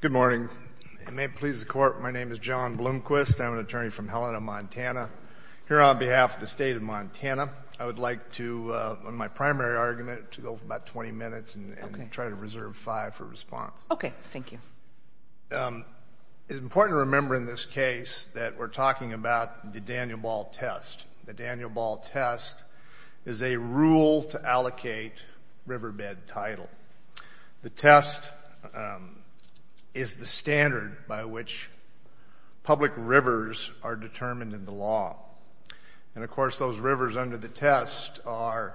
Good morning. It may please the Court, my name is John Bloomquist. I'm an attorney from Helena, Montana. Here on behalf of the state of Montana, I would like to, on my primary argument, to go for about 20 minutes and try to reserve 5 for response. Okay, thank you. It's important to remember in this case that we're talking about the Daniel Ball test. The Daniel Ball test is a rule to allocate riverbed title. The test is the standard by which public rivers are determined in the law. And, of course, those rivers under the test are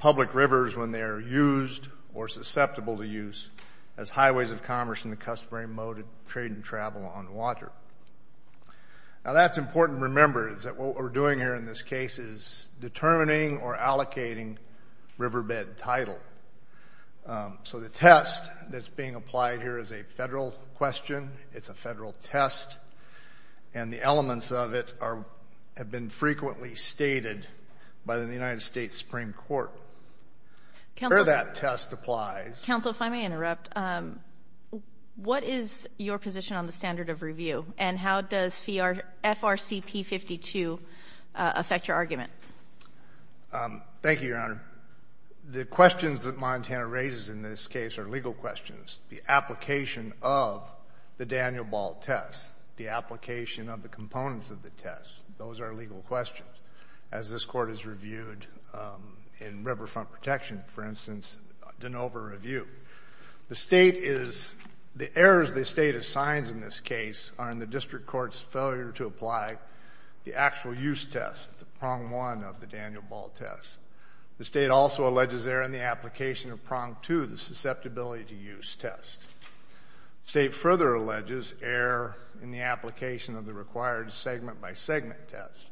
public rivers when they are used or susceptible to use as highways of commerce in the customary mode of trade and travel on water. Now, that's important to remember, is that what we're doing here in this case is determining or allocating riverbed title. So the test that's being applied here is a federal question, it's a federal test, and the elements of it have been frequently stated by the United States Supreme Court. Where that test applies... Counsel, if I may interrupt, what is your position on the standard of review and how does FRCP 52 affect your argument? Thank you, Your Honor. The questions that Montana raises in this case are legal questions. The application of the Daniel Ball test, the application of the components of the test, those are legal questions. As this Court has reviewed in Riverfront Protection, for instance, an over-review. The state is...the errors the state assigns in this case are in the district court's failure to apply the actual use test, the prong one of the Daniel Ball test. The state also alleges error in the application of prong two, the susceptibility to use test. The state further alleges error in the application of the required segment-by-segment test.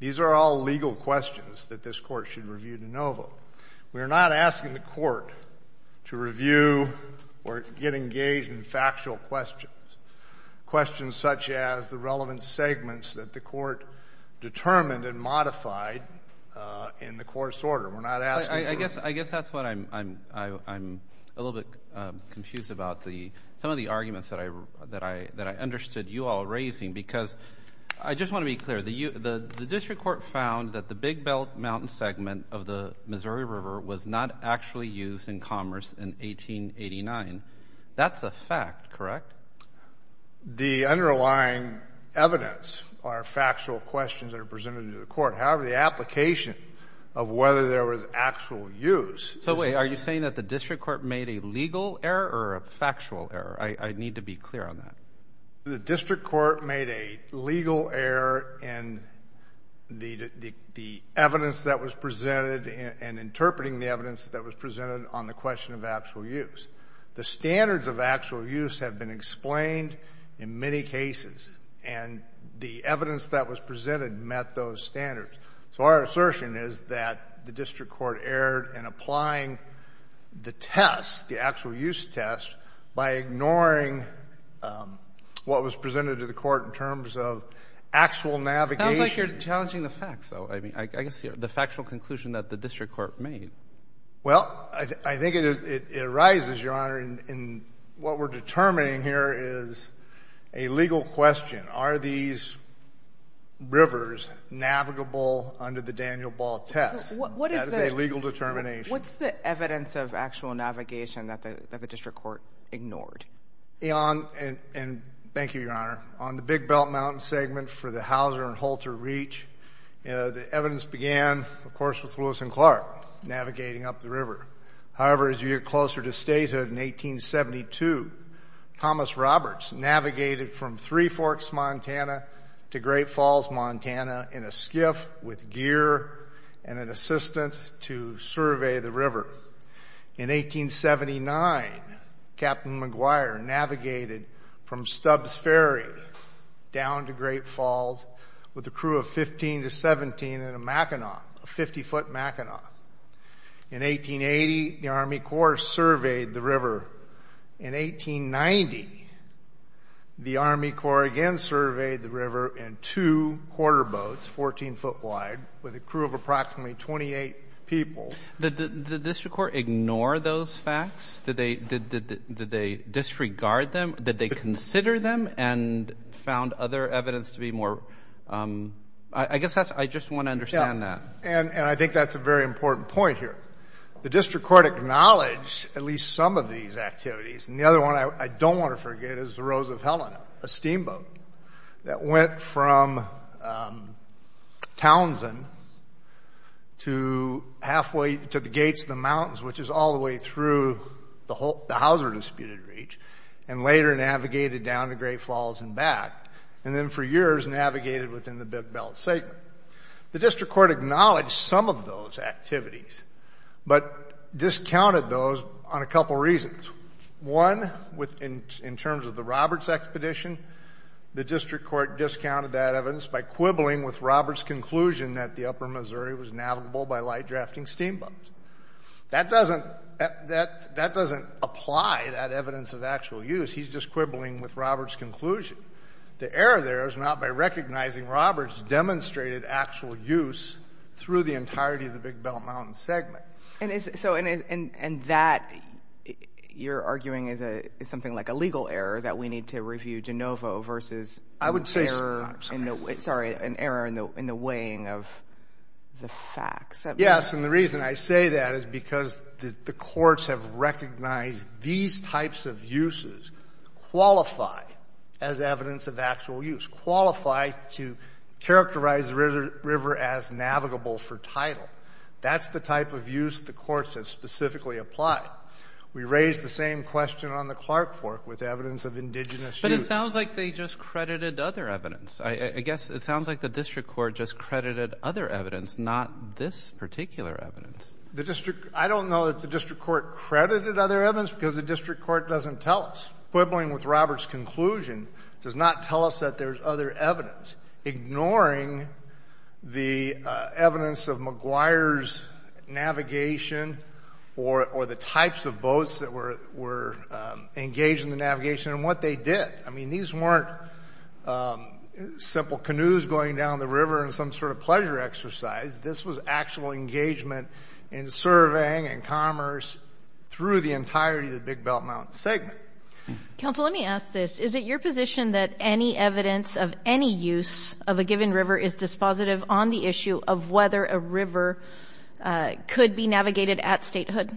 These are all legal questions that this Court should review de novo. We are not asking the Court to review or get engaged in factual questions, questions such as the relevant segments that the Court determined and modified in the course order. I guess that's what I'm a little bit confused about. Some of the arguments that I understood you all raising because I just want to be clear. The district court found that the Big Belt Mountain segment of the Missouri River was not actually used in commerce in 1889. That's a fact, correct? The underlying evidence are factual questions that are presented to the Court. However, the application of whether there was actual use... So wait, are you saying that the district court made a legal error or a factual error? I need to be clear on that. The district court made a legal error in the evidence that was presented and interpreting the evidence that was presented on the question of actual use. The standards of actual use have been explained in many cases, and the evidence that was presented met those standards. So our assertion is that the district court erred in applying the test, the actual use test, by ignoring what was presented to the Court in terms of actual navigation. It sounds like you're challenging the facts, though. I mean, I can see the factual conclusion that the district court made. Well, I think it arises, Your Honor, in what we're determining here is a legal question. Are these rivers navigable under the Daniel Ball test? That is a legal determination. What's the evidence of actual navigation that the district court ignored? Thank you, Your Honor. On the Big Belt Mountain segment for the Hauser and Holter Reach, the evidence began, of course, with Lewis and Clark navigating up the river. However, as you get closer to statehood, in 1872, Thomas Roberts navigated from Three Forks, Montana, to Great Falls, Montana, in a skiff with gear and an assistant to survey the river. In 1879, Captain McGuire navigated from Stubbs Ferry down to Great Falls with a crew of 15 to 17 in a Mackinac, a 50-foot Mackinac. In 1880, the Army Corps surveyed the river. In 1890, the Army Corps again surveyed the river in two quarterboats, 14-foot wide, with a crew of approximately 28 people. Did the district court ignore those facts? Did they disregard them? Did they consider them and found other evidence to be more? I guess that's why I just want to understand that. And I think that's a very important point here. The district court acknowledged at least some of these activities, and the other one I don't want to forget is the Rose of Helena, a steamboat, that went from Townsend to the Gates of the Mountains, which is all the way through the Hauser Disputed Reach, and later navigated down to Great Falls and back, and then for years navigated within the Big Belt segment. The district court acknowledged some of those activities, but discounted those on a couple reasons. One, in terms of the Roberts expedition, the district court discounted that evidence by quibbling with Roberts' conclusion that the upper Missouri was navigable by light-drafting steamboats. That doesn't apply that evidence of actual use. He's just quibbling with Roberts' conclusion. The error there is not by recognizing Roberts' demonstrated actual use through the entirety of the Big Belt Mountains segment. And that, you're arguing, is something like a legal error that we need to review de novo versus an error in the weighing of the facts? Yes, and the reason I say that is because the courts have recognized these types of uses qualify as evidence of actual use, qualify to characterize the river as navigable for tidal. That's the type of use the courts have specifically applied. We raised the same question on the Clark Fork with evidence of indigenous use. But it sounds like they just credited other evidence. I guess it sounds like the district court just credited other evidence, not this particular evidence. I don't know that the district court credited other evidence because the district court doesn't tell us. Quibbling with Roberts' conclusion does not tell us that there's other evidence. Ignoring the evidence of McGuire's navigation or the types of boats that were engaged in the navigation and what they did. I mean, these weren't simple canoes going down the river and some sort of pleasure exercise. This was actual engagement in surveying and commerce through the entirety of the Big Belt Mountains segment. Counsel, let me ask this. Is it your position that any evidence of any use of a given river is dispositive on the issue of whether a river could be navigated at statehood?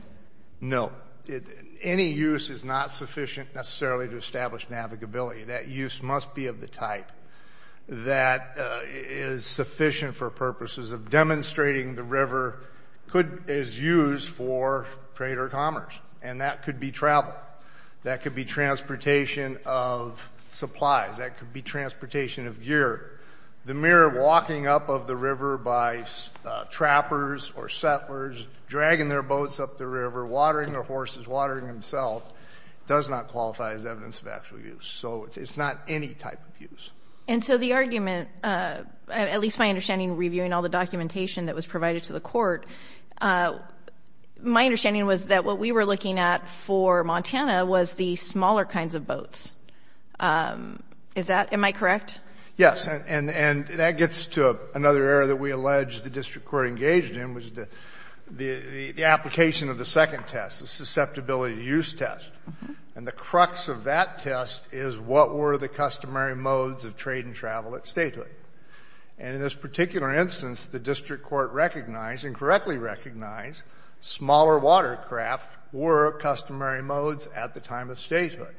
No. Any use is not sufficient necessarily to establish navigability. That use must be of the type that is sufficient for purposes of demonstrating the river is used for trade or commerce, and that could be travel. That could be transportation of supplies. That could be transportation of gear. The mere walking up of the river by trappers or settlers, dragging their boats up the river, watering their horses, watering themselves, does not qualify as evidence of actual use. So it's not any type of use. And so the argument, at least my understanding reviewing all the documentation that was provided to the Court, my understanding was that what we were looking at for Montana was the smaller kinds of boats. Is that — am I correct? Yes. And that gets to another area that we allege the district court engaged in, which is the application of the second test, the susceptibility-to-use test. And the crux of that test is what were the customary modes of trade and travel at statehood? And in this particular instance, the district court recognized and correctly recognized smaller watercraft were customary modes at the time of statehood.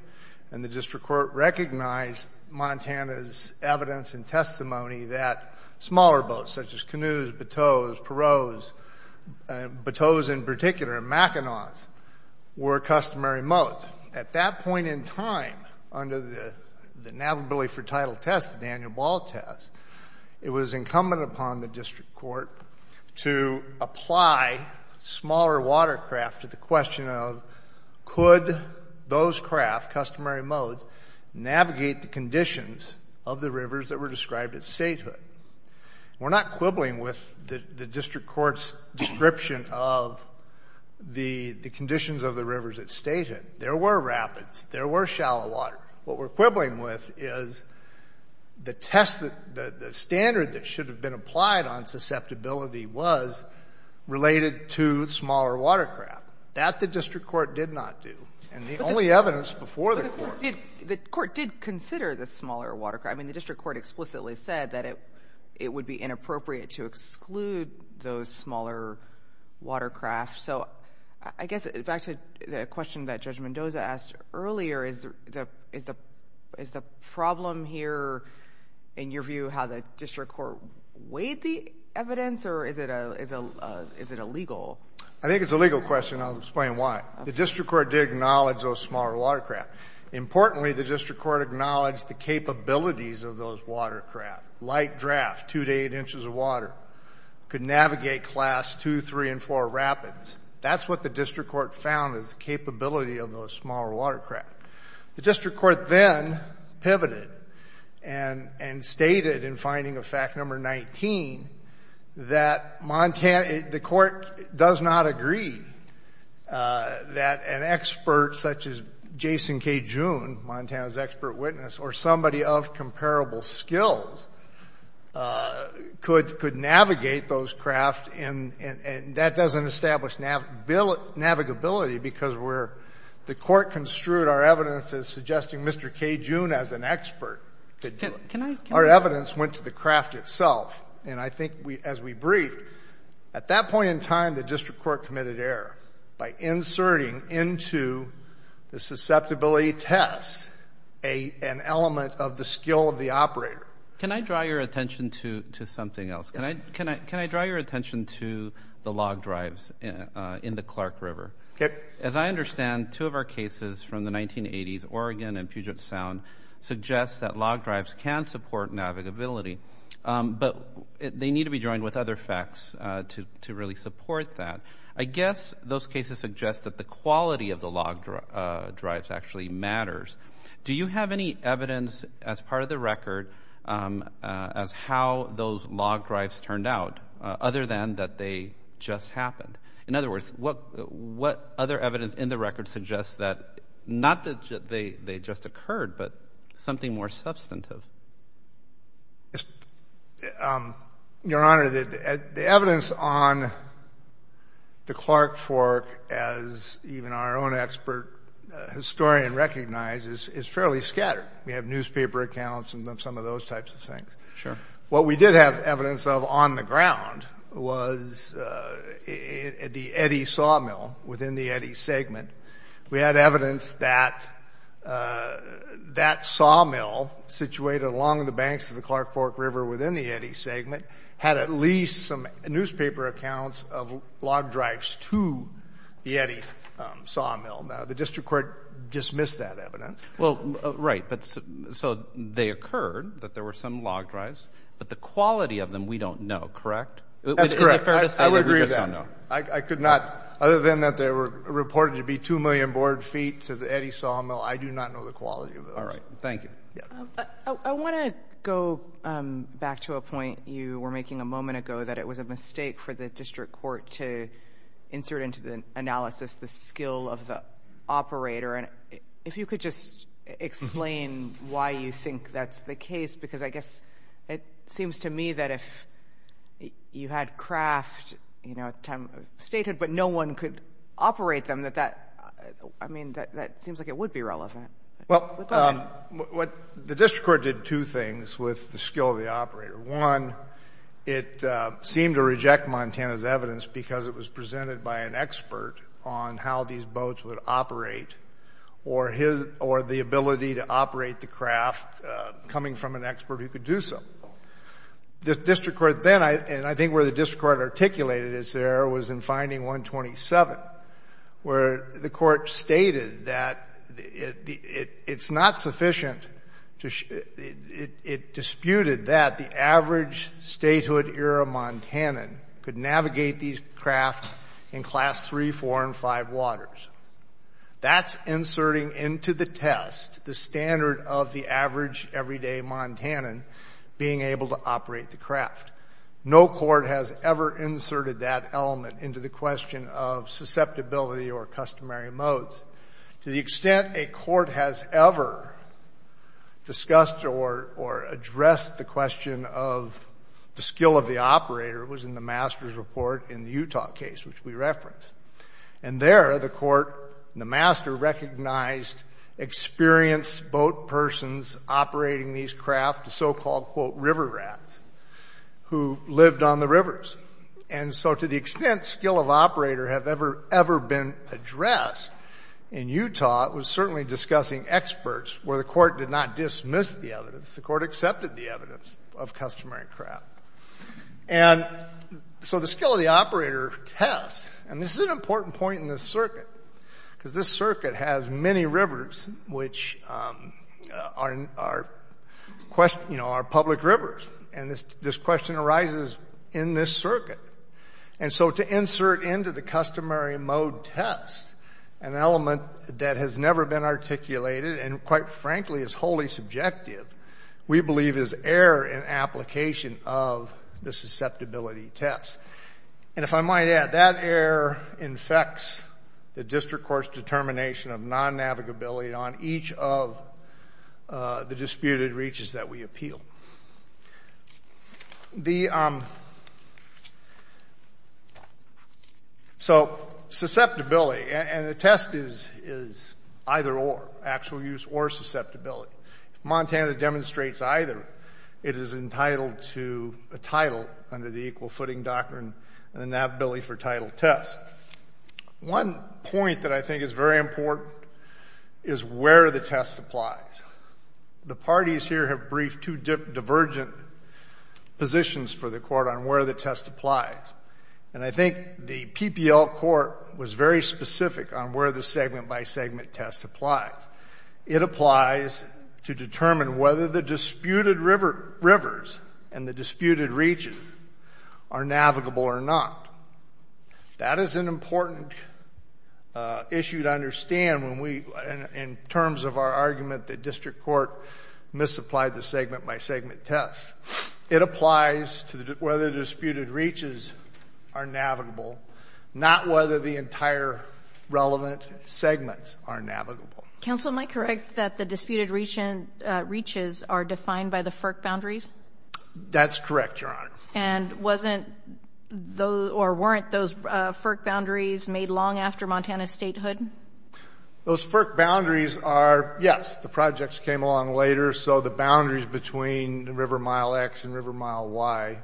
And the district court recognized Montana's evidence and testimony that smaller boats, such as canoes, bateaus, perreaux, bateaus in particular, and mackinaws, were customary modes. At that point in time, under the navigability for title test, the Daniel Ball test, it was incumbent upon the district court to apply smaller watercraft to the question of, could those craft, customary modes, navigate the conditions of the rivers that were described at statehood? We're not quibbling with the district court's description of the conditions of the rivers at statehood. There were rapids. There were shallow water. What we're quibbling with is the test, the standard that should have been applied on susceptibility was related to smaller watercraft. That the district court did not do. And the only evidence before the court — But the court did consider the smaller watercraft. I mean, the district court explicitly said that it would be inappropriate to exclude those smaller watercraft. So I guess back to the question that Judge Mendoza asked earlier, is the problem here, in your view, how the district court weighed the evidence, or is it illegal? I think it's a legal question. I'll explain why. The district court did acknowledge those smaller watercraft. Importantly, the district court acknowledged the capabilities of those watercraft. Light draft, two to eight inches of water. Could navigate Class II, III, and IV rapids. That's what the district court found is the capability of those smaller watercraft. The district court then pivoted and stated in finding of fact number 19 that the court does not agree that an expert such as Jason K. June, Montana's expert witness, or somebody of comparable skills could navigate those craft. And that doesn't establish navigability because the court construed our evidence as suggesting Mr. K. June as an expert. Our evidence went to the craft itself. And I think as we briefed, at that point in time the district court committed error by inserting into the susceptibility test an element of the skill of the operator. Can I draw your attention to something else? Yes. Can I draw your attention to the log drives in the Clark River? Okay. As I understand, two of our cases from the 1980s, Oregon and Puget Sound, suggest that log drives can support navigability. But they need to be joined with other facts to really support that. I guess those cases suggest that the quality of the log drives actually matters. Do you have any evidence as part of the record as how those log drives turned out, other than that they just happened? In other words, what other evidence in the record suggests that, not that they just occurred, but something more substantive? Your Honor, the evidence on the Clark Fork, as even our own expert historian recognizes, is fairly scattered. We have newspaper accounts and some of those types of things. Sure. What we did have evidence of on the ground was the Eddy sawmill within the Eddy segment. We had evidence that that sawmill situated along the banks of the Clark Fork River within the Eddy segment had at least some newspaper accounts of log drives to the Eddy sawmill. Now, the district court dismissed that evidence. Right. So they occurred that there were some log drives, but the quality of them we don't know, correct? That's correct. I would agree with that. We just don't know. I could not, other than that they were reported to be 2 million board feet to the Eddy sawmill, I do not know the quality of those. All right. Thank you. I want to go back to a point you were making a moment ago, that it was a mistake for the district court to insert into the analysis the skill of the operator. If you could just explain why you think that's the case, because I guess it seems to me that if you had craft, you know, at the time of statehood, but no one could operate them, that that, I mean, that seems like it would be relevant. Well, the district court did two things with the skill of the operator. One, it seemed to reject Montana's evidence because it was presented by an expert on how these boats would operate or the ability to operate the craft coming from an expert who could do so. The district court then, and I think where the district court articulated this error, was in finding 127, where the court stated that it's not sufficient to ---- it disputed that the average statehood-era Montanan could navigate these craft in class 3, 4, and 5 waters. That's inserting into the test the standard of the average everyday Montanan being able to operate the craft. No court has ever inserted that element into the question of susceptibility or customary modes. To the extent a court has ever discussed or addressed the question of the skill of the operator was in the master's report in the Utah case, which we referenced. And there, the court and the master recognized experienced boat persons operating these craft, the so-called, quote, river rats, who lived on the rivers. And so to the extent skill of operator have ever, ever been addressed in Utah, it was certainly discussing experts where the court did not dismiss the evidence. The court accepted the evidence of customary craft. And so the skill of the operator test, and this is an important point in this circuit, because this circuit has many rivers which are public rivers. And this question arises in this circuit. And so to insert into the customary mode test an element that has never been articulated and, quite frankly, is wholly subjective, we believe is error in application of the susceptibility test. And if I might add, that error infects the district court's determination of non-navigability on each of the disputed reaches that we appeal. So susceptibility, and the test is either or, actual use or susceptibility. If Montana demonstrates either, it is entitled to a title under the equal footing doctrine and the navigability for title test. One point that I think is very important is where the test applies. The parties here have briefed two divergent positions for the court on where the test applies. And I think the PPL court was very specific on where the segment-by-segment test applies. It applies to determine whether the disputed rivers and the disputed reaches are navigable or not. That is an important issue to understand in terms of our argument that district court misapplied the segment-by-segment test. It applies to whether disputed reaches are navigable, not whether the entire relevant segments are navigable. Counsel, am I correct that the disputed reaches are defined by the FERC boundaries? That's correct, Your Honor. And weren't those FERC boundaries made long after Montana's statehood? Those FERC boundaries are, yes. The projects came along later, so the boundaries between River Mile X and River Mile Y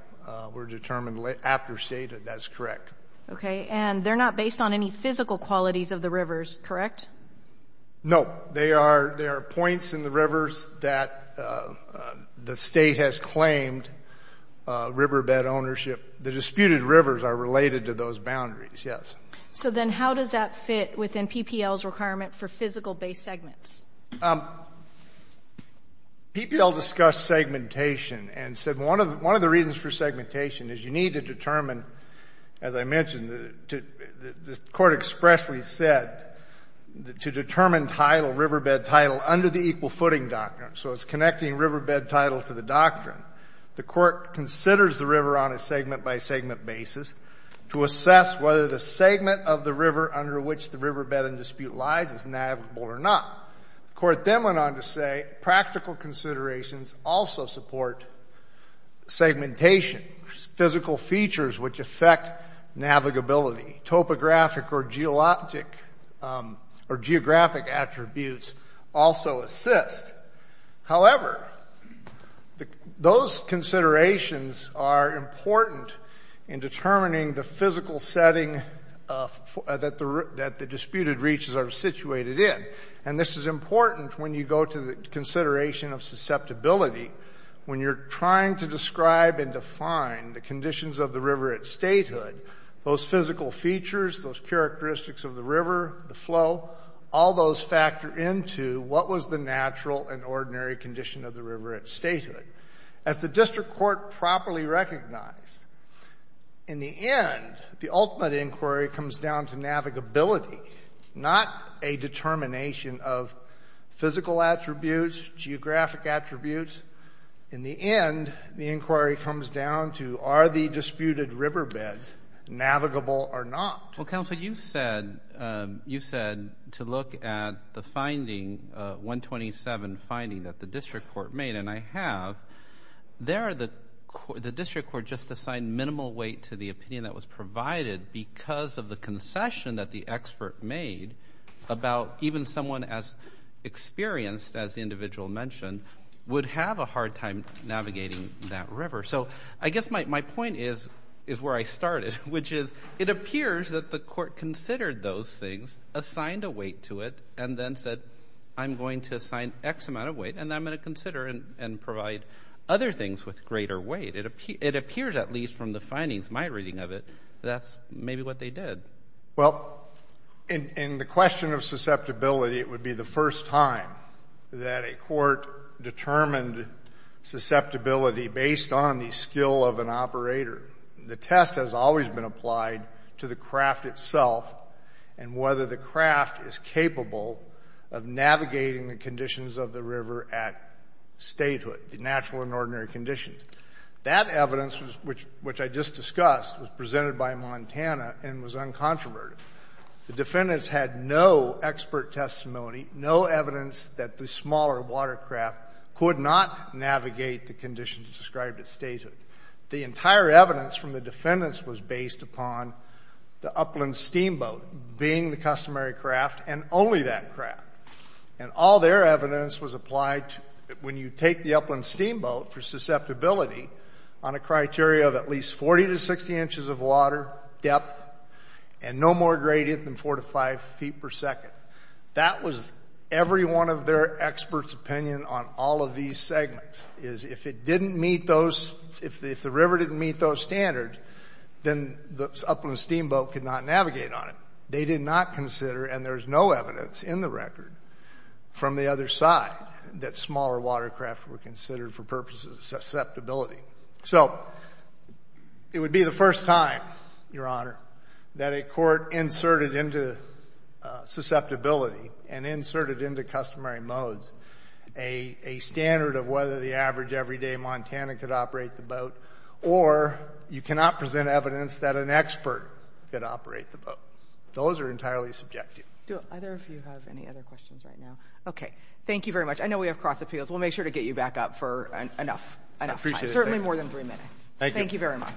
were determined after statehood. That's correct. Okay. And they're not based on any physical qualities of the rivers, correct? No. They are points in the rivers that the State has claimed riverbed ownership. The disputed rivers are related to those boundaries, yes. So then how does that fit within PPL's requirement for physical-based segments? PPL discussed segmentation and said one of the reasons for segmentation is you need to determine, as I mentioned, the court expressly said to determine title, riverbed title, under the equal footing doctrine. So it's connecting riverbed title to the doctrine. The court considers the river on a segment-by-segment basis to assess whether the segment of the river under which the riverbed in dispute lies is navigable or not. The court then went on to say practical considerations also support segmentation, physical features which affect navigability. Topographic or geographic attributes also assist. However, those considerations are important in determining the physical setting that the disputed reaches are situated in. And this is important when you go to the consideration of susceptibility. When you're trying to describe and define the conditions of the river at statehood, those physical features, those characteristics of the river, the flow, all those factor into what was the natural and ordinary condition of the river at statehood. As the district court properly recognized, in the end, the ultimate inquiry comes down to navigability, not a determination of physical attributes, geographic attributes. In the end, the inquiry comes down to are the disputed riverbeds navigable or not. Well, Counselor, you said to look at the finding, 127 finding that the district court made, and I have, there the district court just assigned minimal weight to the opinion that was provided because of the concession that the expert made about even someone as experienced as the individual mentioned would have a hard time navigating that river. So I guess my point is where I started, which is it appears that the court considered those things, assigned a weight to it, and then said, I'm going to assign X amount of weight, and I'm going to consider and provide other things with greater weight. It appears, at least from the findings, my reading of it, that's maybe what they did. Well, in the question of susceptibility, it would be the first time that a court determined susceptibility based on the skill of an operator. The test has always been applied to the craft itself and whether the craft is capable of navigating the conditions of the river at statehood, the natural and ordinary conditions. That evidence, which I just discussed, was presented by Montana and was uncontroverted. The defendants had no expert testimony, no evidence that the smaller watercraft could not navigate the conditions described at statehood. The entire evidence from the defendants was based upon the Upland Steamboat being the customary craft and only that craft. And all their evidence was applied when you take the Upland Steamboat for susceptibility on a criteria of at least 40 to 60 inches of water depth and no more gradient than 4 to 5 feet per second. That was every one of their experts' opinion on all of these segments, is if it didn't meet those, if the river didn't meet those standards, then the Upland Steamboat could not navigate on it. They did not consider, and there's no evidence in the record from the other side that smaller watercraft were considered for purposes of susceptibility. So it would be the first time, Your Honor, that a court inserted into susceptibility and inserted into customary modes a standard of whether the average everyday Montana could operate the boat or you cannot present evidence that an expert could operate the boat. Those are entirely subjective. Do either of you have any other questions right now? Okay. Thank you very much. I know we have cross appeals. We'll make sure to get you back up for enough time. I appreciate it. Certainly more than three minutes. Thank you. Thank you very much.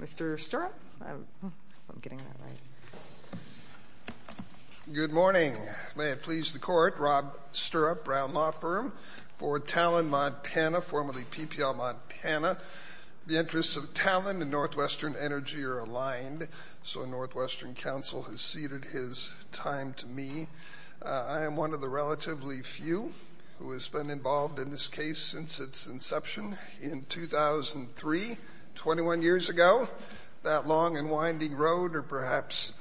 Mr. Stirrup? I hope I'm getting that right. Good morning. May it please the Court, Rob Stirrup, Brown Law Firm for Talon, Montana, formerly PPL Montana. The interests of Talon and Northwestern Energy are aligned. So Northwestern Council has ceded his time to me. I am one of the relatively few who has been involved in this case since its inception in 2003, 21 years ago. That long and winding road or perhaps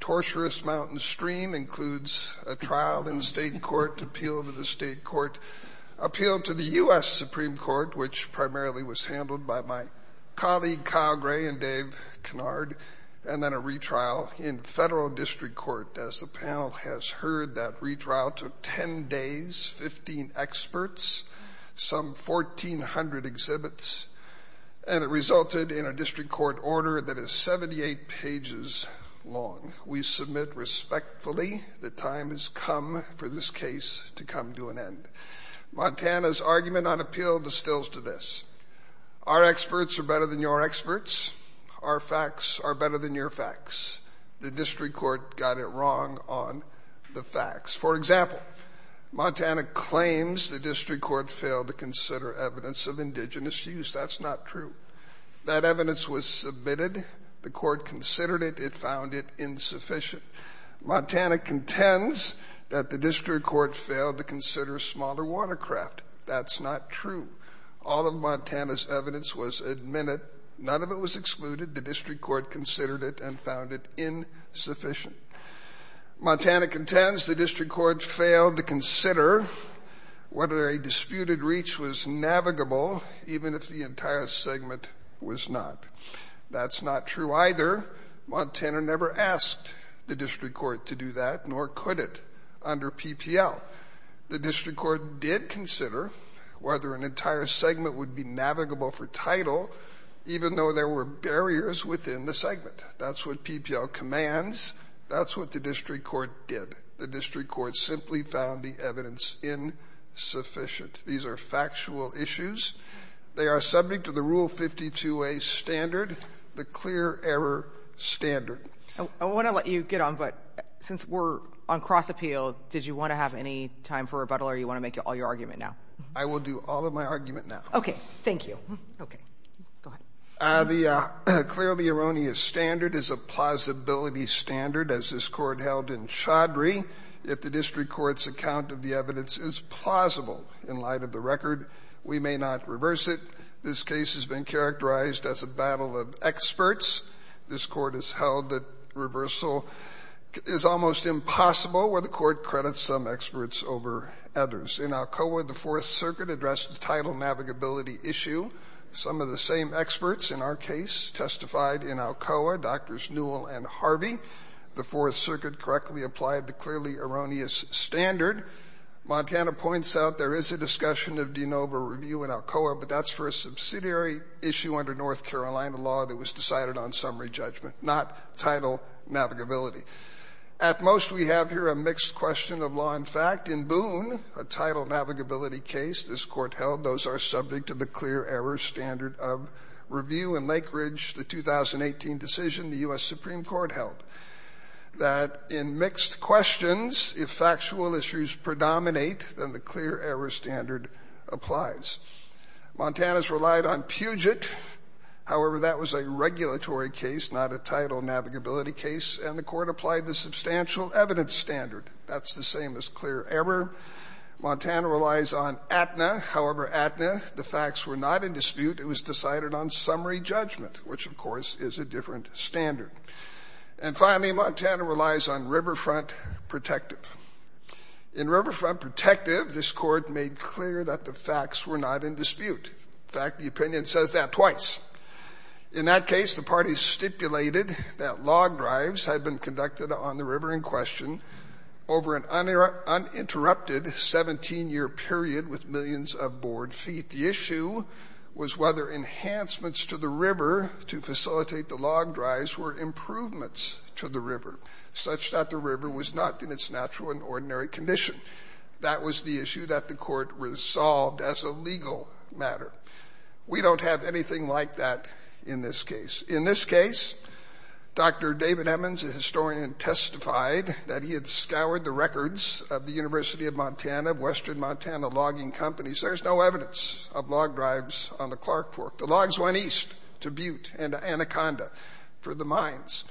torturous mountain stream includes a trial in state court, appeal to the state court, appeal to the U.S. Supreme Court, which primarily was handled by my colleague Kyle Gray and Dave Kennard, and then a retrial in federal district court. As the panel has heard, that retrial took 10 days, 15 experts, some 1,400 exhibits, and it resulted in a district court order that is 78 pages long. We submit respectfully that time has come for this case to come to an end. Montana's argument on appeal distills to this. Our experts are better than your experts. Our facts are better than your facts. The district court got it wrong on the facts. For example, Montana claims the district court failed to consider evidence of indigenous use. That's not true. That evidence was submitted. The court considered it. It found it insufficient. Montana contends that the district court failed to consider smaller watercraft. That's not true. All of Montana's evidence was admitted. None of it was excluded. The district court considered it and found it insufficient. Montana contends the district court failed to consider whether a disputed reach was navigable, even if the entire segment was not. That's not true either. Montana never asked the district court to do that, nor could it under PPL. The district court did consider whether an entire segment would be navigable for title, even though there were barriers within the segment. That's what PPL commands. That's what the district court did. The district court simply found the evidence insufficient. These are factual issues. They are subject to the Rule 52a standard, the clear error standard. I want to let you get on, but since we're on cross appeal, did you want to have any time for rebuttal or you want to make all your argument now? I will do all of my argument now. Thank you. Okay. Go ahead. The clearly erroneous standard is a plausibility standard, as this court held in Chaudhry. If the district court's account of the evidence is plausible in light of the record, we may not reverse it. This case has been characterized as a battle of experts. This Court has held that reversal is almost impossible, where the Court credits some experts over others. In Alcoa, the Fourth Circuit addressed the title navigability issue. Some of the same experts in our case testified in Alcoa, Drs. Newell and Harvey. The Fourth Circuit correctly applied the clearly erroneous standard. Montana points out there is a discussion of de novo review in Alcoa, but that's for a subsidiary issue under North Carolina law that was decided on summary judgment, not title navigability. At most, we have here a mixed question of law and fact. In Boone, a title navigability case this Court held, those are subject to the clear error standard of review. In Lake Ridge, the 2018 decision, the U.S. Supreme Court held that in mixed questions, if factual issues predominate, then the clear error standard applies. Montana's relied on Puget. However, that was a regulatory case, not a title navigability case, and the Court applied the substantial evidence standard. That's the same as clear error. Montana relies on Aetna. However, Aetna, the facts were not in dispute. It was decided on summary judgment, which, of course, is a different standard. And finally, Montana relies on Riverfront Protective. In Riverfront Protective, this Court made clear that the facts were not in dispute. In fact, the opinion says that twice. In that case, the parties stipulated that log drives had been conducted on the river in question over an uninterrupted 17-year period with millions of board feet. The issue was whether enhancements to the river to facilitate the log drives were improvements to the river such that the river was not in its natural and ordinary condition. That was the issue that the Court resolved as a legal matter. We don't have anything like that in this case. In this case, Dr. David Emmons, a historian, testified that he had scoured the records of the University of Montana, of Western Montana logging companies. There's no evidence of log drives on the Clark Fork. The logs went east to Butte and Anaconda for the mines.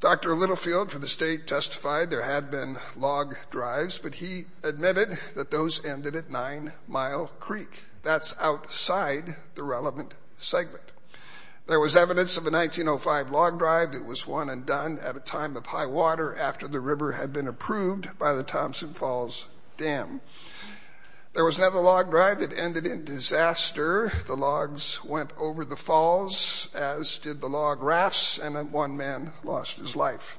Dr. Littlefield for the state testified there had been log drives, but he admitted that those ended at Nine Mile Creek. That's outside the relevant segment. There was evidence of a 1905 log drive that was one and done at a time of high water after the river had been approved by the Thompson Falls Dam. There was another log drive that ended in disaster. The logs went over the falls, as did the log rafts, and one man lost his life.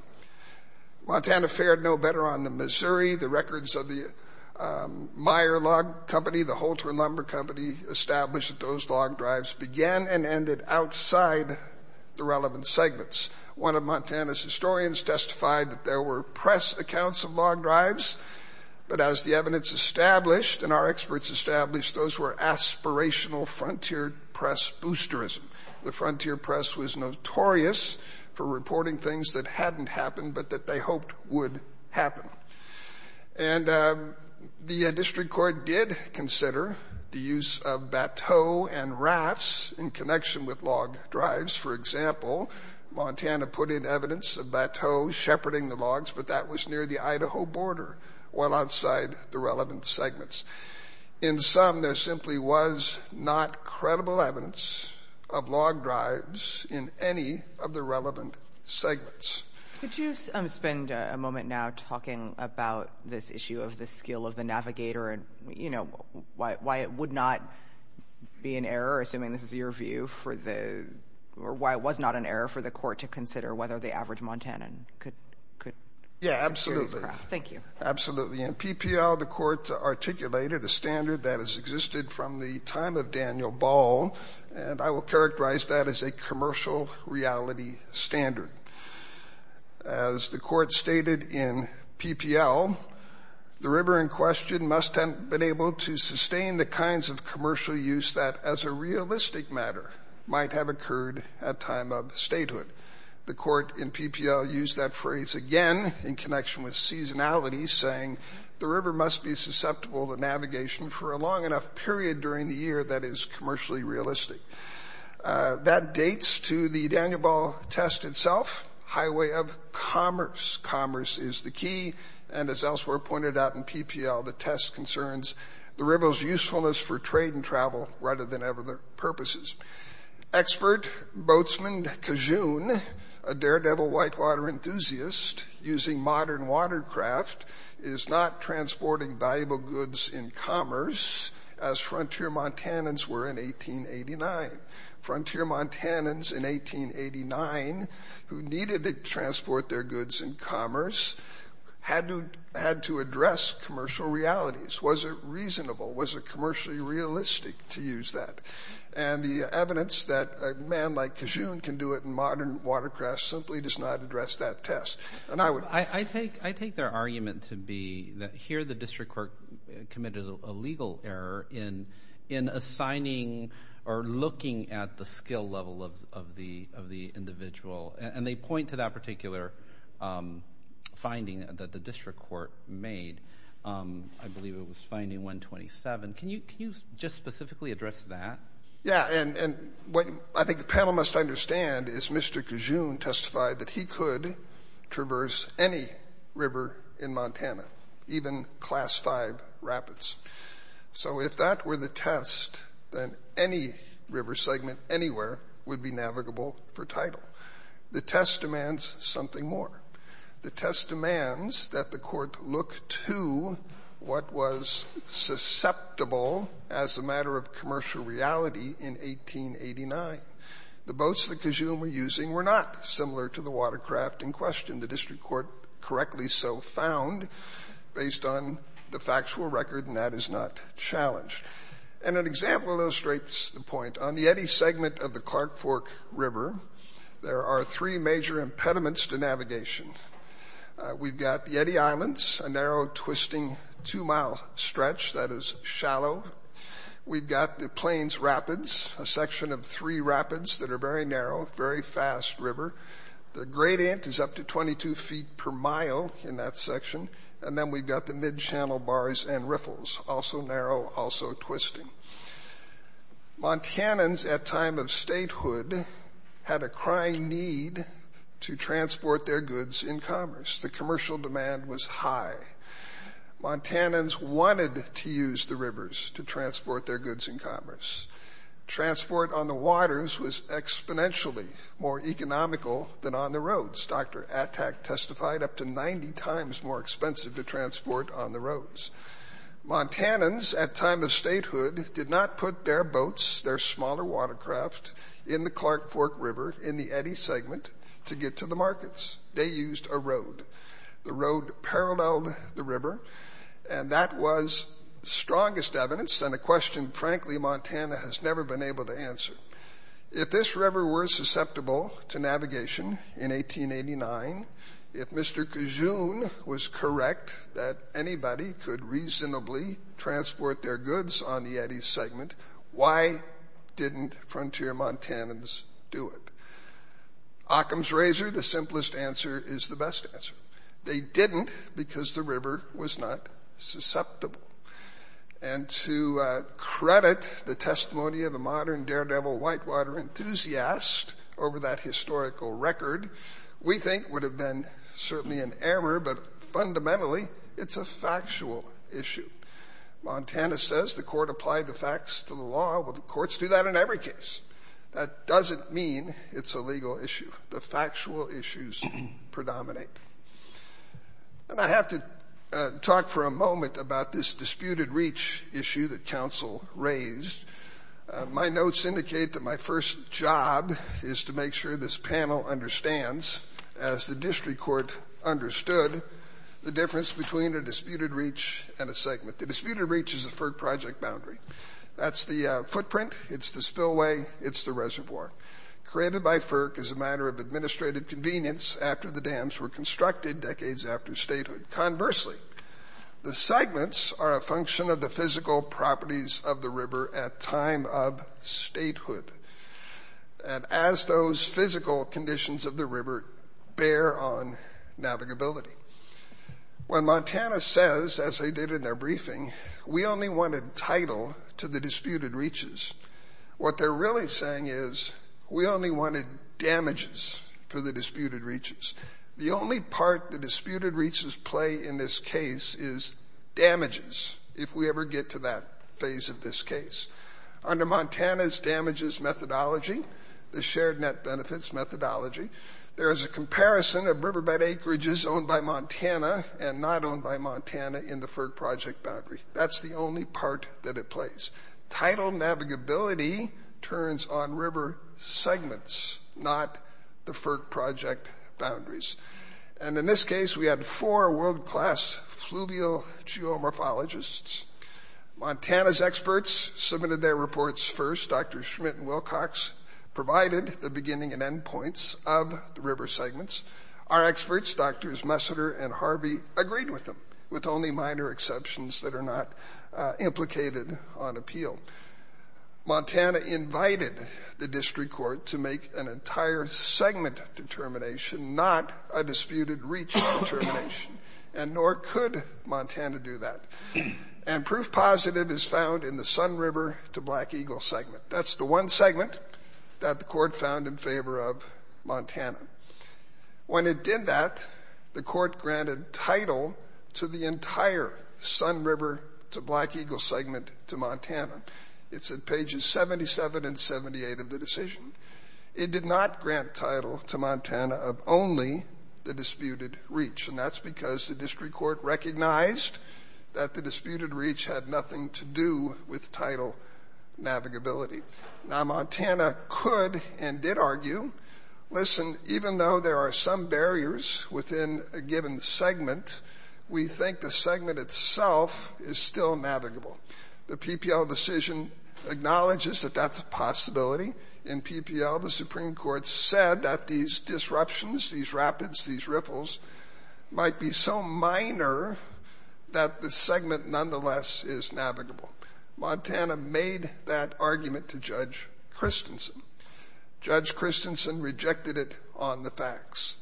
Montana fared no better on the Missouri. The records of the Meyer Log Company, the Holter and Lumber Company, established that those log drives began and ended outside the relevant segments. One of Montana's historians testified that there were press accounts of log drives, but as the evidence established and our experts established, those were aspirational frontier press boosterism. The frontier press was notorious for reporting things that hadn't happened but that they hoped would happen. And the district court did consider the use of bateau and rafts in connection with log drives. For example, Montana put in evidence of bateau shepherding the logs, but that was near the Idaho border while outside the relevant segments. In sum, there simply was not credible evidence of log drives in any of the relevant segments. Could you spend a moment now talking about this issue of the skill of the navigator and, you know, why it would not be an error, assuming this is your view, or why it was not an error for the court to consider whether the average Montanan could use craft? Thank you. In PPL, the court articulated a standard that has existed from the time of Daniel Ball, and I will characterize that as a commercial reality standard. As the court stated in PPL, the river in question must have been able to sustain the kinds of commercial use that as a realistic matter might have occurred at time of statehood. The court in PPL used that phrase again in connection with seasonality, saying the river must be susceptible to navigation for a long enough period during the year that is commercially realistic. That dates to the Daniel Ball test itself, highway of commerce. Commerce is the key, and as elsewhere pointed out in PPL, the test concerns the river's usefulness for trade and travel rather than other purposes. Expert boatsman Cajun, a daredevil whitewater enthusiast using modern watercraft, is not transporting valuable goods in commerce as frontier Montanans were in 1889. Frontier Montanans in 1889, who needed to transport their goods in commerce, had to address commercial realities. Was it reasonable? Was it commercially realistic to use that? And the evidence that a man like Cajun can do it in modern watercraft simply does not address that test. I take their argument to be that here the district court committed a legal error in assigning or looking at the skill level of the individual, and they point to that particular finding that the district court made. I believe it was finding 127. Can you just specifically address that? Yeah, and what I think the panel must understand is Mr. Cajun testified that he could traverse any river in Montana, even Class V rapids. So if that were the test, then any river segment anywhere would be navigable for title. The test demands something more. The test demands that the Court look to what was susceptible as a matter of commercial reality in 1889. The boats that Cajun were using were not similar to the watercraft in question. The district court correctly so found, based on the factual record, and that is not challenged. And an example illustrates the point. On the Yeti segment of the Clark Fork River, there are three major impediments to navigation. We've got the Yeti Islands, a narrow, twisting two-mile stretch that is shallow. We've got the Plains Rapids, a section of three rapids that are very narrow, very fast river. The gradient is up to 22 feet per mile in that section. And then we've got the mid-channel bars and riffles, also narrow, also twisting. Montanans at time of statehood had a crying need to transport their goods in commerce. The commercial demand was high. Montanans wanted to use the rivers to transport their goods in commerce. Transport on the waters was exponentially more economical than on the roads. Dr. Attack testified, up to 90 times more expensive to transport on the roads. Montanans at time of statehood did not put their boats, their smaller watercraft, in the Clark Fork River in the Yeti segment to get to the markets. They used a road. The road paralleled the river, and that was strongest evidence, and a question, frankly, Montana has never been able to answer. If this river were susceptible to navigation in 1889, if Mr. Cajun was correct that anybody could reasonably transport their goods on the Yeti segment, why didn't frontier Montanans do it? Occam's razor, the simplest answer, is the best answer. They didn't because the river was not susceptible. And to credit the testimony of a modern daredevil whitewater enthusiast over that historical record, we think would have been certainly an error, but fundamentally it's a factual issue. Montana says the court applied the facts to the law. Well, the courts do that in every case. That doesn't mean it's a legal issue. The factual issues predominate. And I have to talk for a moment about this disputed reach issue that counsel raised. My notes indicate that my first job is to make sure this panel understands, as the district court understood, the difference between a disputed reach and a segment. The disputed reach is a FERC project boundary. That's the footprint. It's the spillway. It's the reservoir. Created by FERC as a matter of administrative convenience after the dams were constructed decades after statehood. Conversely, the segments are a function of the physical properties of the river at time of statehood. And as those physical conditions of the river bear on navigability. When Montana says, as they did in their briefing, we only want a title to the disputed reaches, what they're really saying is we only wanted damages for the disputed reaches. The only part the disputed reaches play in this case is damages, if we ever get to that phase of this case. Under Montana's damages methodology, the shared net benefits methodology, there is a comparison of riverbed acreages owned by Montana and not owned by Montana in the FERC project boundary. That's the only part that it plays. Title navigability turns on river segments, not the FERC project boundaries. And in this case, we had four world-class fluvial geomorphologists. Montana's experts submitted their reports first. Dr. Schmidt and Wilcox provided the beginning and end points of the river segments. Our experts, Drs. Messiter and Harvey, agreed with them, with only minor exceptions that are not implicated on appeal. Montana invited the district court to make an entire segment determination, not a disputed reach determination. And nor could Montana do that. And proof positive is found in the Sun River to Black Eagle segment. That's the one segment that the court found in favor of Montana. When it did that, the court granted title to the entire Sun River to Black Eagle segment to Montana. It's at pages 77 and 78 of the decision. It did not grant title to Montana of only the disputed reach, and that's because the district court recognized that the disputed reach had nothing to do with title navigability. Now, Montana could and did argue, listen, even though there are some barriers within a given segment, we think the segment itself is still navigable. The PPL decision acknowledges that that's a possibility. In PPL, the Supreme Court said that these disruptions, these rapids, these riffles, might be so minor that the segment nonetheless is navigable. Montana made that argument to Judge Christensen. Judge Christensen rejected it on the facts.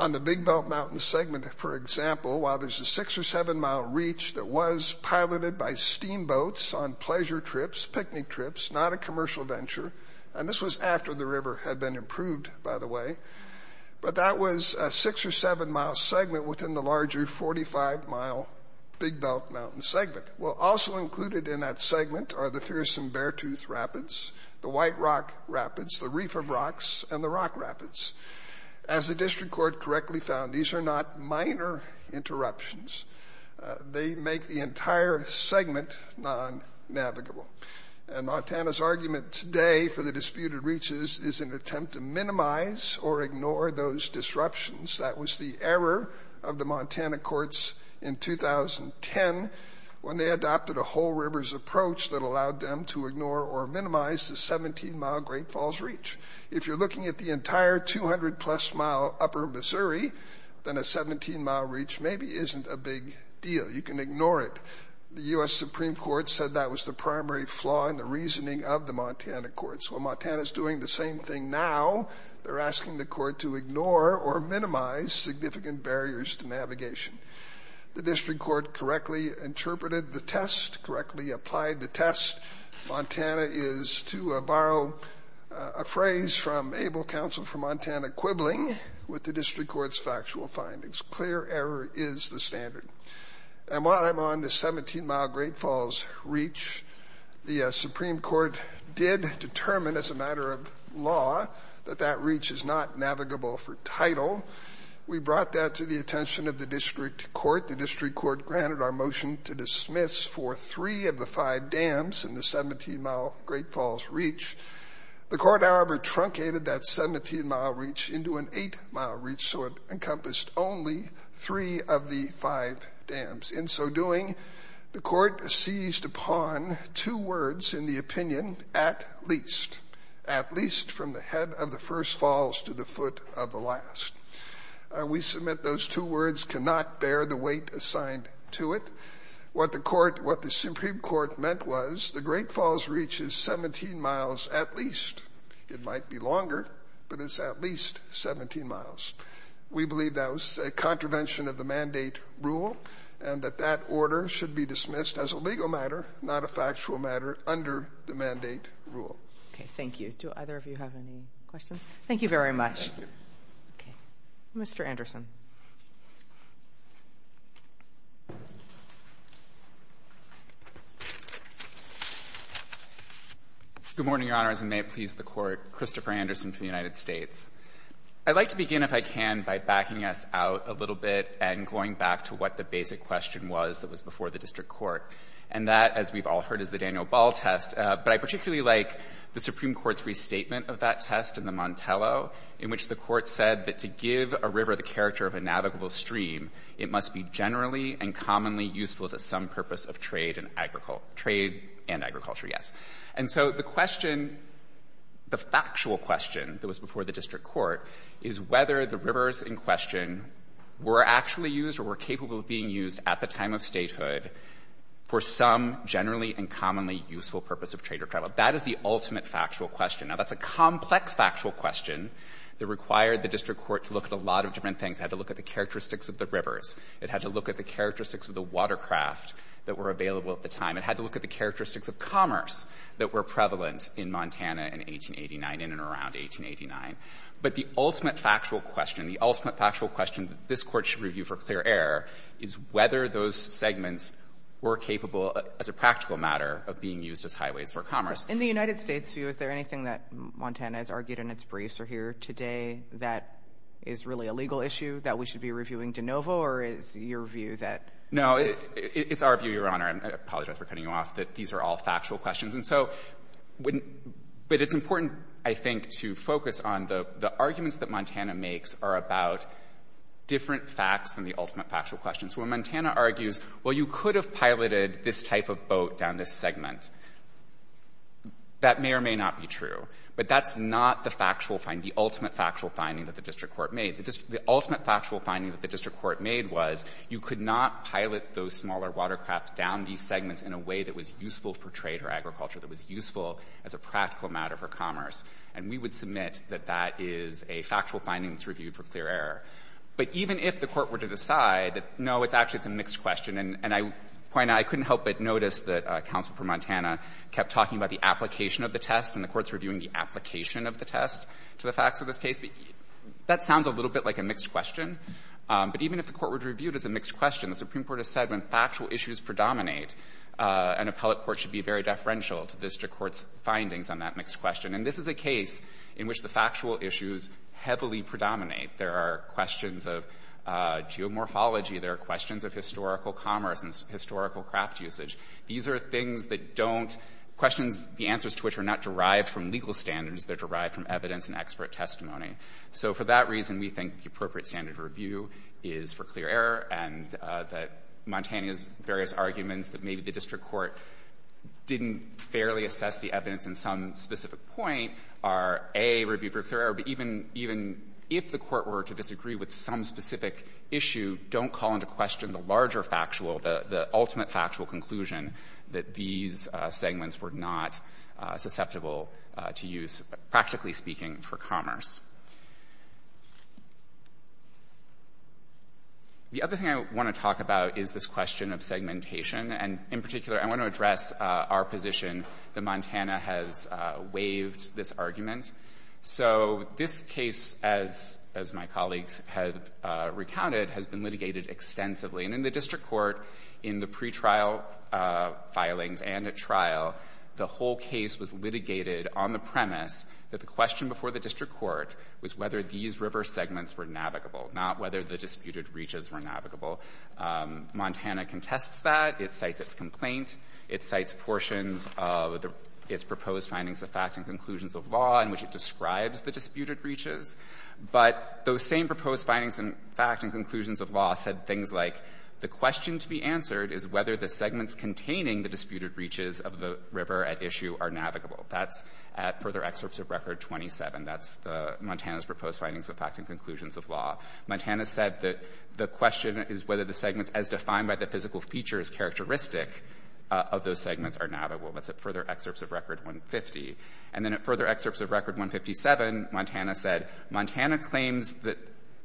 On the Big Belt Mountain segment, for example, while there's a six- or seven-mile reach that was piloted by steamboats on pleasure trips, picnic trips, not a commercial venture, and this was after the river had been improved, by the way, but that was a six- or seven-mile segment within the larger 45-mile Big Belt Mountain segment. Well, also included in that segment are the Fearsome Beartooth Rapids, the White Rock Rapids, the Reef of Rocks, and the Rock Rapids. As the district court correctly found, these are not minor interruptions. They make the entire segment non-navigable. And Montana's argument today for the disputed reaches is an attempt to minimize or ignore those disruptions. That was the error of the Montana courts in 2010 when they adopted a whole rivers approach that allowed them to ignore or minimize the 17-mile Great Falls reach. If you're looking at the entire 200-plus-mile Upper Missouri, then a 17-mile reach maybe isn't a big deal. You can ignore it. The U.S. Supreme Court said that was the primary flaw in the reasoning of the Montana courts. Well, Montana's doing the same thing now. They're asking the court to ignore or minimize significant barriers to navigation. The district court correctly interpreted the test, correctly applied the test. Montana is, to borrow a phrase from Abel Counsel for Montana, quibbling with the district court's factual findings. Clear error is the standard. And while I'm on the 17-mile Great Falls reach, the Supreme Court did determine as a matter of law that that reach is not navigable for title. We brought that to the attention of the district court. The district court granted our motion to dismiss for three of the five dams in the 17-mile Great Falls reach. The court, however, truncated that 17-mile reach into an eight-mile reach so it encompassed only three of the five dams. In so doing, the court seized upon two words in the opinion, at least, at least from the head of the first falls to the foot of the last. We submit those two words cannot bear the weight assigned to it. What the Supreme Court meant was the Great Falls reach is 17 miles at least. It might be longer, but it's at least 17 miles. We believe that was a contravention of the mandate rule and that that order should be dismissed as a legal matter, not a factual matter, under the mandate rule. Okay, thank you. Do either of you have any questions? Thank you very much. Okay. Mr. Anderson. Good morning, Your Honors, and may it please the Court. Christopher Anderson from the United States. I'd like to begin, if I can, by backing us out a little bit and going back to what the basic question was that was before the district court. And that, as we've all heard, is the Daniel Ball test. But I particularly like the Supreme Court's restatement of that test in the Montello, in which the Court said that to give a river the character of a navigable stream, it must be generally and commonly useful to some purpose of trade and agriculture. And so the question, the factual question that was before the district court, is whether the rivers in question were actually used or were capable of being used at the time of statehood for some generally and commonly useful purpose of trade or travel. That is the ultimate factual question. Now, that's a complex factual question that required the district court to look at a lot of different things, had to look at the characteristics of the rivers, it had to look at the characteristics of the watercraft that were available at the time, it had to look at the characteristics of commerce that were prevalent in Montana in 1889, in and around 1889. But the ultimate factual question, the ultimate factual question that this Court should review for clear error is whether those segments were capable, as a practical matter, of being used as highways for commerce. In the United States' view, is there anything that Montana has argued in its briefs or here today that is really a legal issue that we should be reviewing de novo, or is your view that... No, it's our view, Your Honor, and I apologize for cutting you off, that these are all factual questions. And so, but it's important, I think, to focus on the arguments that Montana makes are about different facts than the ultimate factual questions. When Montana argues, well, you could have piloted this type of boat down this segment, that may or may not be true. But that's not the factual finding, the ultimate factual finding that the district court made. The ultimate factual finding that the district court made was you could not pilot those smaller watercraft down these segments in a way that was useful for trade or agriculture, that was useful as a practical matter for commerce. And we would submit that that is a factual finding that's reviewed for clear error. But even if the court were to decide that, no, it's actually, it's a mixed question and I point out, I couldn't help but notice that counsel for Montana kept talking about the application of the test and the court's reviewing the application of the test to the facts of this case. That sounds a little bit like a mixed question. But even if the court were to review it as a mixed question, the Supreme Court has said when factual issues predominate, an appellate court should be very deferential to district court's findings on that mixed question. And this is a case in which the factual issues heavily predominate. There are questions of geomorphology, there are questions of historical commerce and historical craft usage. These are things that don't, questions, the answers to which are not derived from legal standards, they're derived from evidence and expert testimony. So for that reason, we think the appropriate standard review is for clear error and that Montana's various arguments that maybe the district court didn't think fairly assess the evidence in some specific point are, A, review for clear error, but even if the court were to disagree with some specific issue, don't call into question the larger factual, the ultimate factual conclusion that these segments were not susceptible to use, practically speaking, for commerce. The other thing I want to talk about is this question of segmentation. And in particular, I want to address our position that Montana has waived this argument. So this case, as my colleagues have recounted, has been litigated extensively. And in the district court, in the pretrial filings and at trial, the whole case was litigated on the premise that the question before the district court was whether these reverse segments were navigable, not whether the disputed reaches were navigable. Montana contests that. It cites its complaint. It cites portions of its proposed findings of fact and conclusions of law in which it describes the disputed reaches. But those same proposed findings in fact and conclusions of law said things like the question to be answered is whether the segments containing the disputed reaches of the river at issue are navigable. That's at further excerpts of Record 27. That's Montana's proposed findings of fact and conclusions of law. Montana said that the question is whether the segments as defined by the physical features characteristic of those segments are navigable. That's at further excerpts of Record 150. And then at further excerpts of Record 157, Montana said Montana claims that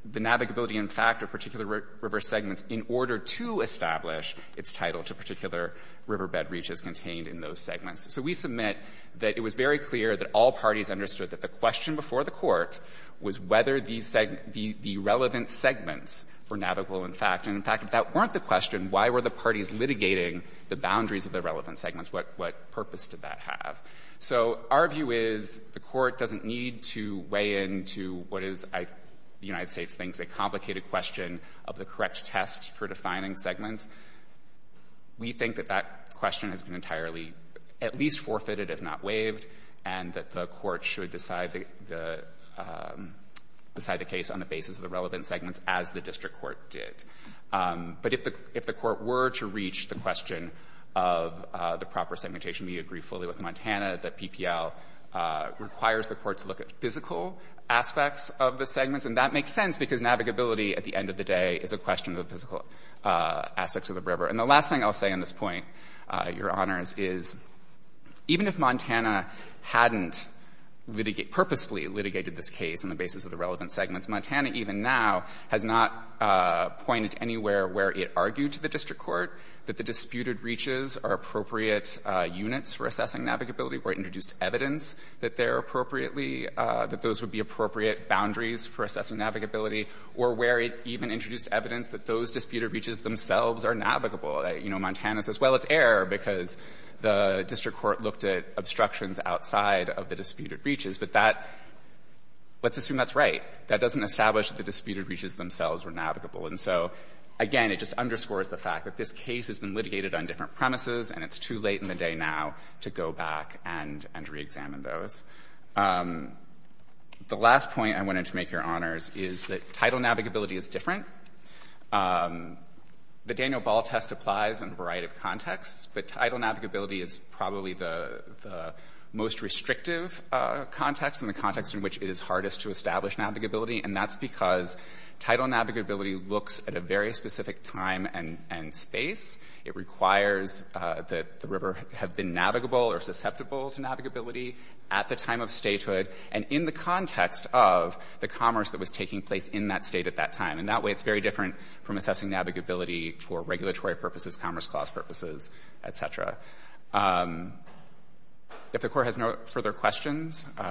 the navigability in fact of particular reverse segments in order to establish its title to particular riverbed reaches contained in those segments. So we submit that it was very clear that all parties understood that the question before the court was whether the relevant segments were navigable in fact. And in fact, if that weren't the question, why were the parties litigating the boundaries of the relevant segments? What purpose did that have? So our view is the Court doesn't need to weigh in to what is, the United States thinks, a complicated question of the correct test for defining segments. We think that that question has been entirely at least forfeited, if not waived, and that the Court should decide the case on the basis of the relevant segments as the district court did. But if the Court were to reach the question of the proper segmentation, we agree fully with Montana that PPL requires the Court to look at physical aspects of the And that makes sense because navigability at the end of the day is a question of the physical aspects of the river. And the last thing I'll say on this point, Your Honors, is even if Montana hadn't litigate, purposely litigated this case on the basis of the relevant segments, Montana even now has not pointed anywhere where it argued to the district court that the disputed reaches are appropriate units for assessing navigability, where it introduced evidence that they're appropriately, that those would be appropriate boundaries for assessing navigability, or where it even introduced evidence that those disputed reaches themselves are navigable. You know, Montana says, well, it's error because the district court looked at obstructions outside of the disputed reaches. But that, let's assume that's right. That doesn't establish that the disputed reaches themselves were navigable. And so, again, it just underscores the fact that this case has been litigated on different premises, and it's too late in the day now to go back and reexamine those. The last point I wanted to make, Your Honors, is that title navigability is different. The Daniel Ball test applies in a variety of contexts, but title navigability is probably the most restrictive context and the context in which it is hardest to establish navigability, and that's because title navigability looks at a very specific time and space. It requires that the river have been navigable or susceptible to navigability at the time of statehood and in the context of the commerce that was taking place in that State at that time. And that way, it's very different from assessing navigability for regulatory purposes, commerce clause purposes, et cetera. If the Court has no further questions. Do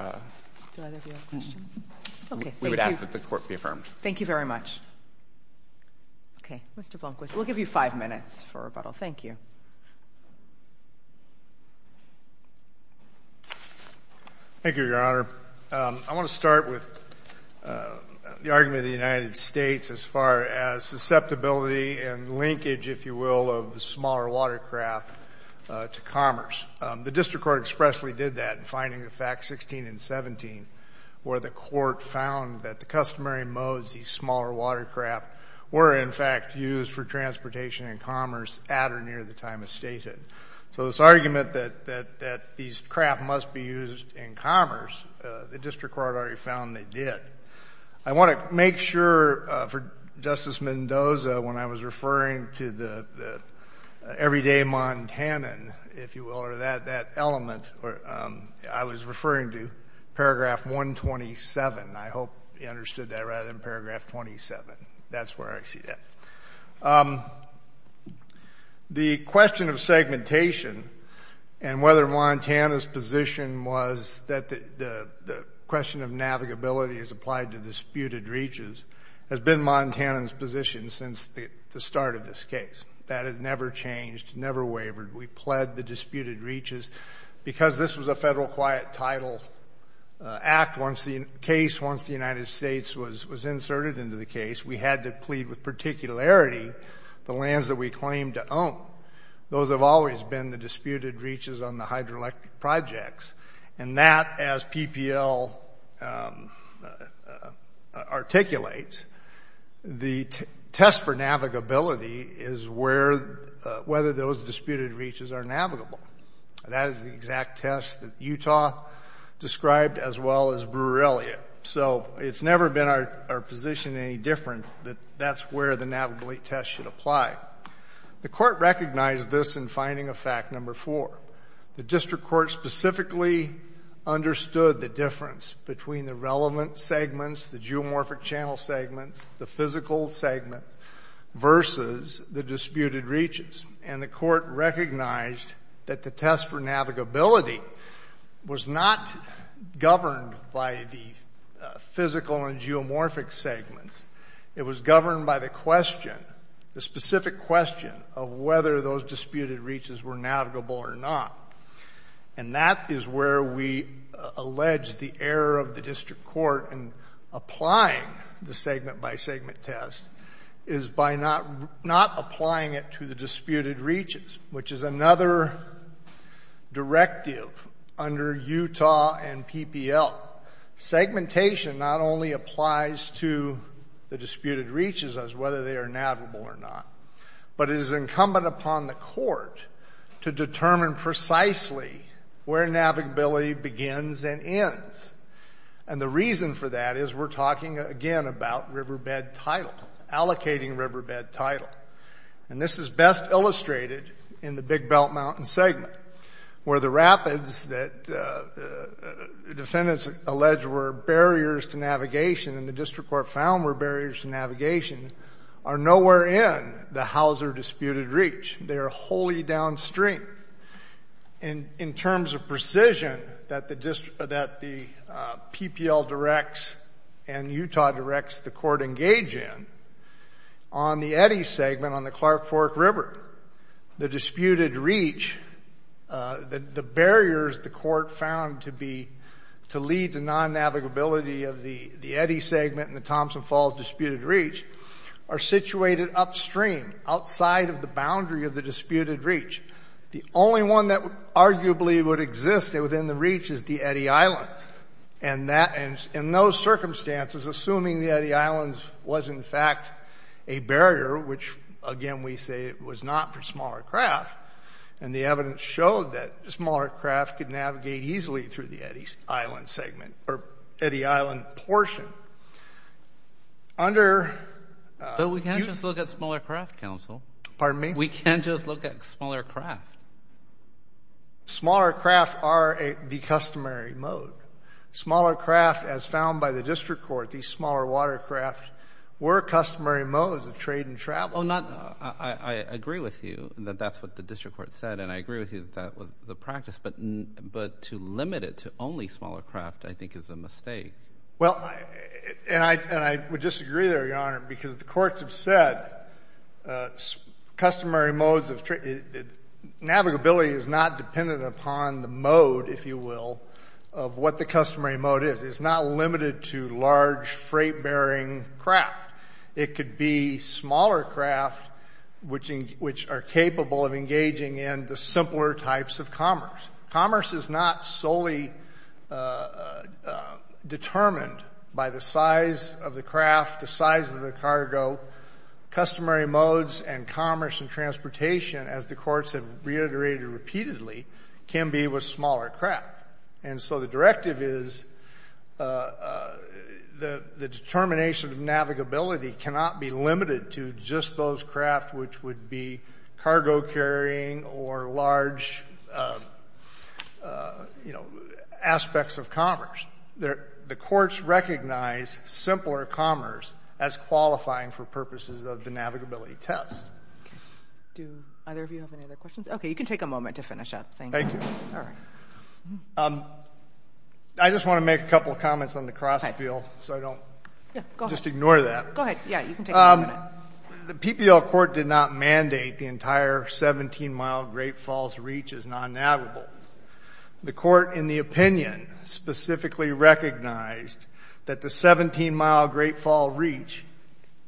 either of you have questions? Okay. We would ask that the Court be affirmed. Thank you very much. Okay. Mr. Blomquist, we'll give you five minutes for rebuttal. Thank you. Thank you, Your Honor. I want to start with the argument of the United States as far as susceptibility and linkage, if you will, of the smaller watercraft to commerce. The District Court expressly did that in finding the Facts 16 and 17 where the Court found that the customary modes, these smaller watercraft, were in fact used for transportation and commerce at or near the time of statehood. So this argument that these craft must be used in commerce, the District Court already found they did. I want to make sure for Justice Mendoza, when I was referring to the everyday Montanan, if you will, or that element, I was referring to Paragraph 127. I hope you understood that rather than Paragraph 27. That's where I see that. The question of segmentation and whether Montana's position was that the question of navigability is applied to disputed reaches has been Montana's position since the start of this case. That has never changed, never wavered. We pled the disputed reaches. Because this was a federal quiet title act, once the case, once the United States was inserted into the case, we had to plead with particularity the lands that we claimed to own. Those have always been the disputed reaches on the hydroelectric projects. And that, as PPL articulates, the test for navigability is whether those disputed reaches are navigable. That is the exact test that Utah described as well as Brewer-Elliott. So it's never been our position any different that that's where the navigability test should apply. The Court recognized this in finding of fact number four. The District Court specifically understood the difference between the relevant segments, the geomorphic channel segments, the physical segments, versus the disputed reaches. And the Court recognized that the test for navigability was not governed by the physical and geomorphic segments. It was governed by the question, the specific question of whether those disputed reaches were navigable or not. And that is where we allege the error of the District Court in applying the segment by segment test is by not applying it to the disputed reaches, which is another directive under Utah and PPL. Segmentation not only applies to the disputed reaches as whether they are navigable or not, but it is incumbent upon the Court to determine precisely where navigability begins and ends. And the reason for that is we're talking, again, about riverbed title, allocating riverbed title. And this is best illustrated in the Big Belt Mountain segment, where the rapids that defendants allege were barriers to navigation and the District Court found were barriers to navigation are nowhere in the Hauser disputed reach. They are wholly downstream. In terms of precision that the PPL directs and Utah directs the Court engage in, on the Eddy segment on the Clark Fork River, the disputed reach, the barriers the Court found to lead to non-navigability of the Eddy segment and the Thompson Falls disputed reach are situated upstream, outside of the boundary of the disputed reach. The only one that arguably would exist within the reach is the Eddy Islands. And in those circumstances, assuming the Eddy Islands was, in fact, a barrier, which, again, we say it was not for smaller craft, and the evidence showed that smaller craft could navigate easily through the Eddy Island segment or Eddy Island portion. Under... But we can't just look at smaller craft, counsel. Pardon me? We can't just look at smaller craft. Smaller craft are the customary mode. Smaller craft, as found by the District Court, these smaller watercraft were customary modes of trade and travel. I agree with you that that's what the District Court said, and I agree with you that that was the practice. But to limit it to only smaller craft, I think, is a mistake. Well, and I would disagree there, Your Honor, because the courts have said customary modes of... Navigability is not dependent upon the mode, if you will, of what the customary mode is. It's not limited to large freight-bearing craft. It could be smaller craft which are capable of engaging in the simpler types of commerce. Commerce is not solely determined by the size of the craft, the size of the cargo. Customary modes and commerce and transportation, as the courts have reiterated repeatedly, can be with smaller craft. And so the directive is the determination of navigability cannot be limited to just those craft which would be cargo-carrying or large, you know, aspects of commerce. The courts recognize simpler commerce as qualifying for purposes of the navigability test. Do either of you have any other questions? Okay. You can take a moment to finish up. Thank you. All right. I just want to make a couple of comments on the cross-appeal so I don't just ignore that. Go ahead. Yeah, you can take a moment. The PPL court did not mandate the entire 17-mile Great Falls reach as non-navigable. The court, in the opinion, specifically recognized that the 17-mile Great Falls reach,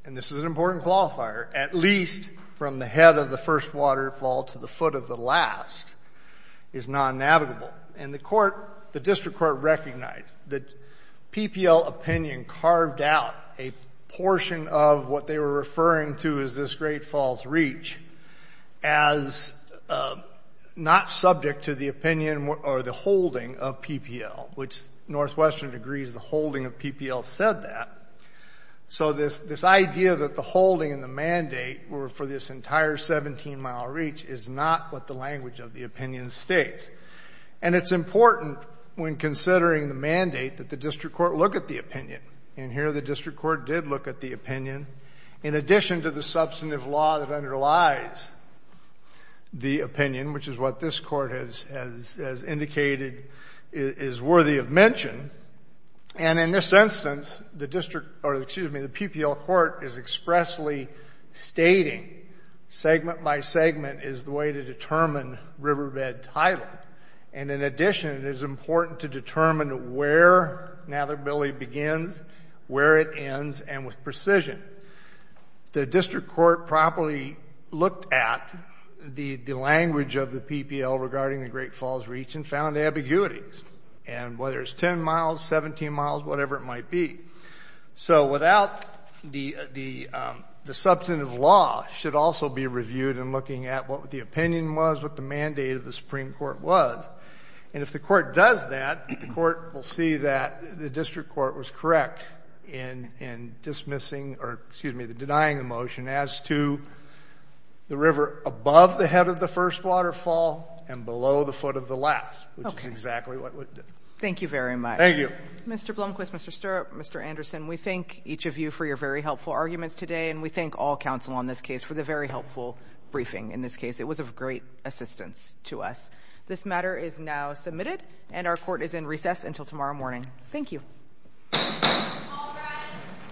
and this is an important qualifier, at least from the head of the district, is non-navigable. And the court, the district court recognized that PPL opinion carved out a portion of what they were referring to as this Great Falls reach as not subject to the opinion or the holding of PPL, which Northwestern agrees the holding of PPL said that. So this idea that the holding and the mandate were for this entire 17-mile reach is not what the language of the opinion states. And it's important when considering the mandate that the district court look at the And here the district court did look at the opinion in addition to the substantive law that underlies the opinion, which is what this court has indicated is worthy of mention. And in this instance, the district or, excuse me, the PPL court is expressly stating segment by segment is the way to determine riverbed title. And in addition, it is important to determine where navigability begins, where it ends, and with precision. The district court properly looked at the language of the PPL regarding the Great Falls reach and found ambiguities. And whether it's 10 miles, 17 miles, whatever it might be. So without the substantive law should also be reviewed in looking at what the opinion was, what the mandate of the Supreme Court was. And if the court does that, the court will see that the district court was correct in dismissing or, excuse me, denying the motion as to the river above the head of the first waterfall and below the foot of the last, which is exactly what it did. Thank you very much. Thank you. Mr. Blomquist, Mr. Stirrup, Mr. Anderson, we thank each of you for your very helpful arguments today. And we thank all counsel on this case for the very helpful briefing in this case. It was of great assistance to us. This matter is now submitted and our court is in recess until tomorrow morning. Thank you. All rise.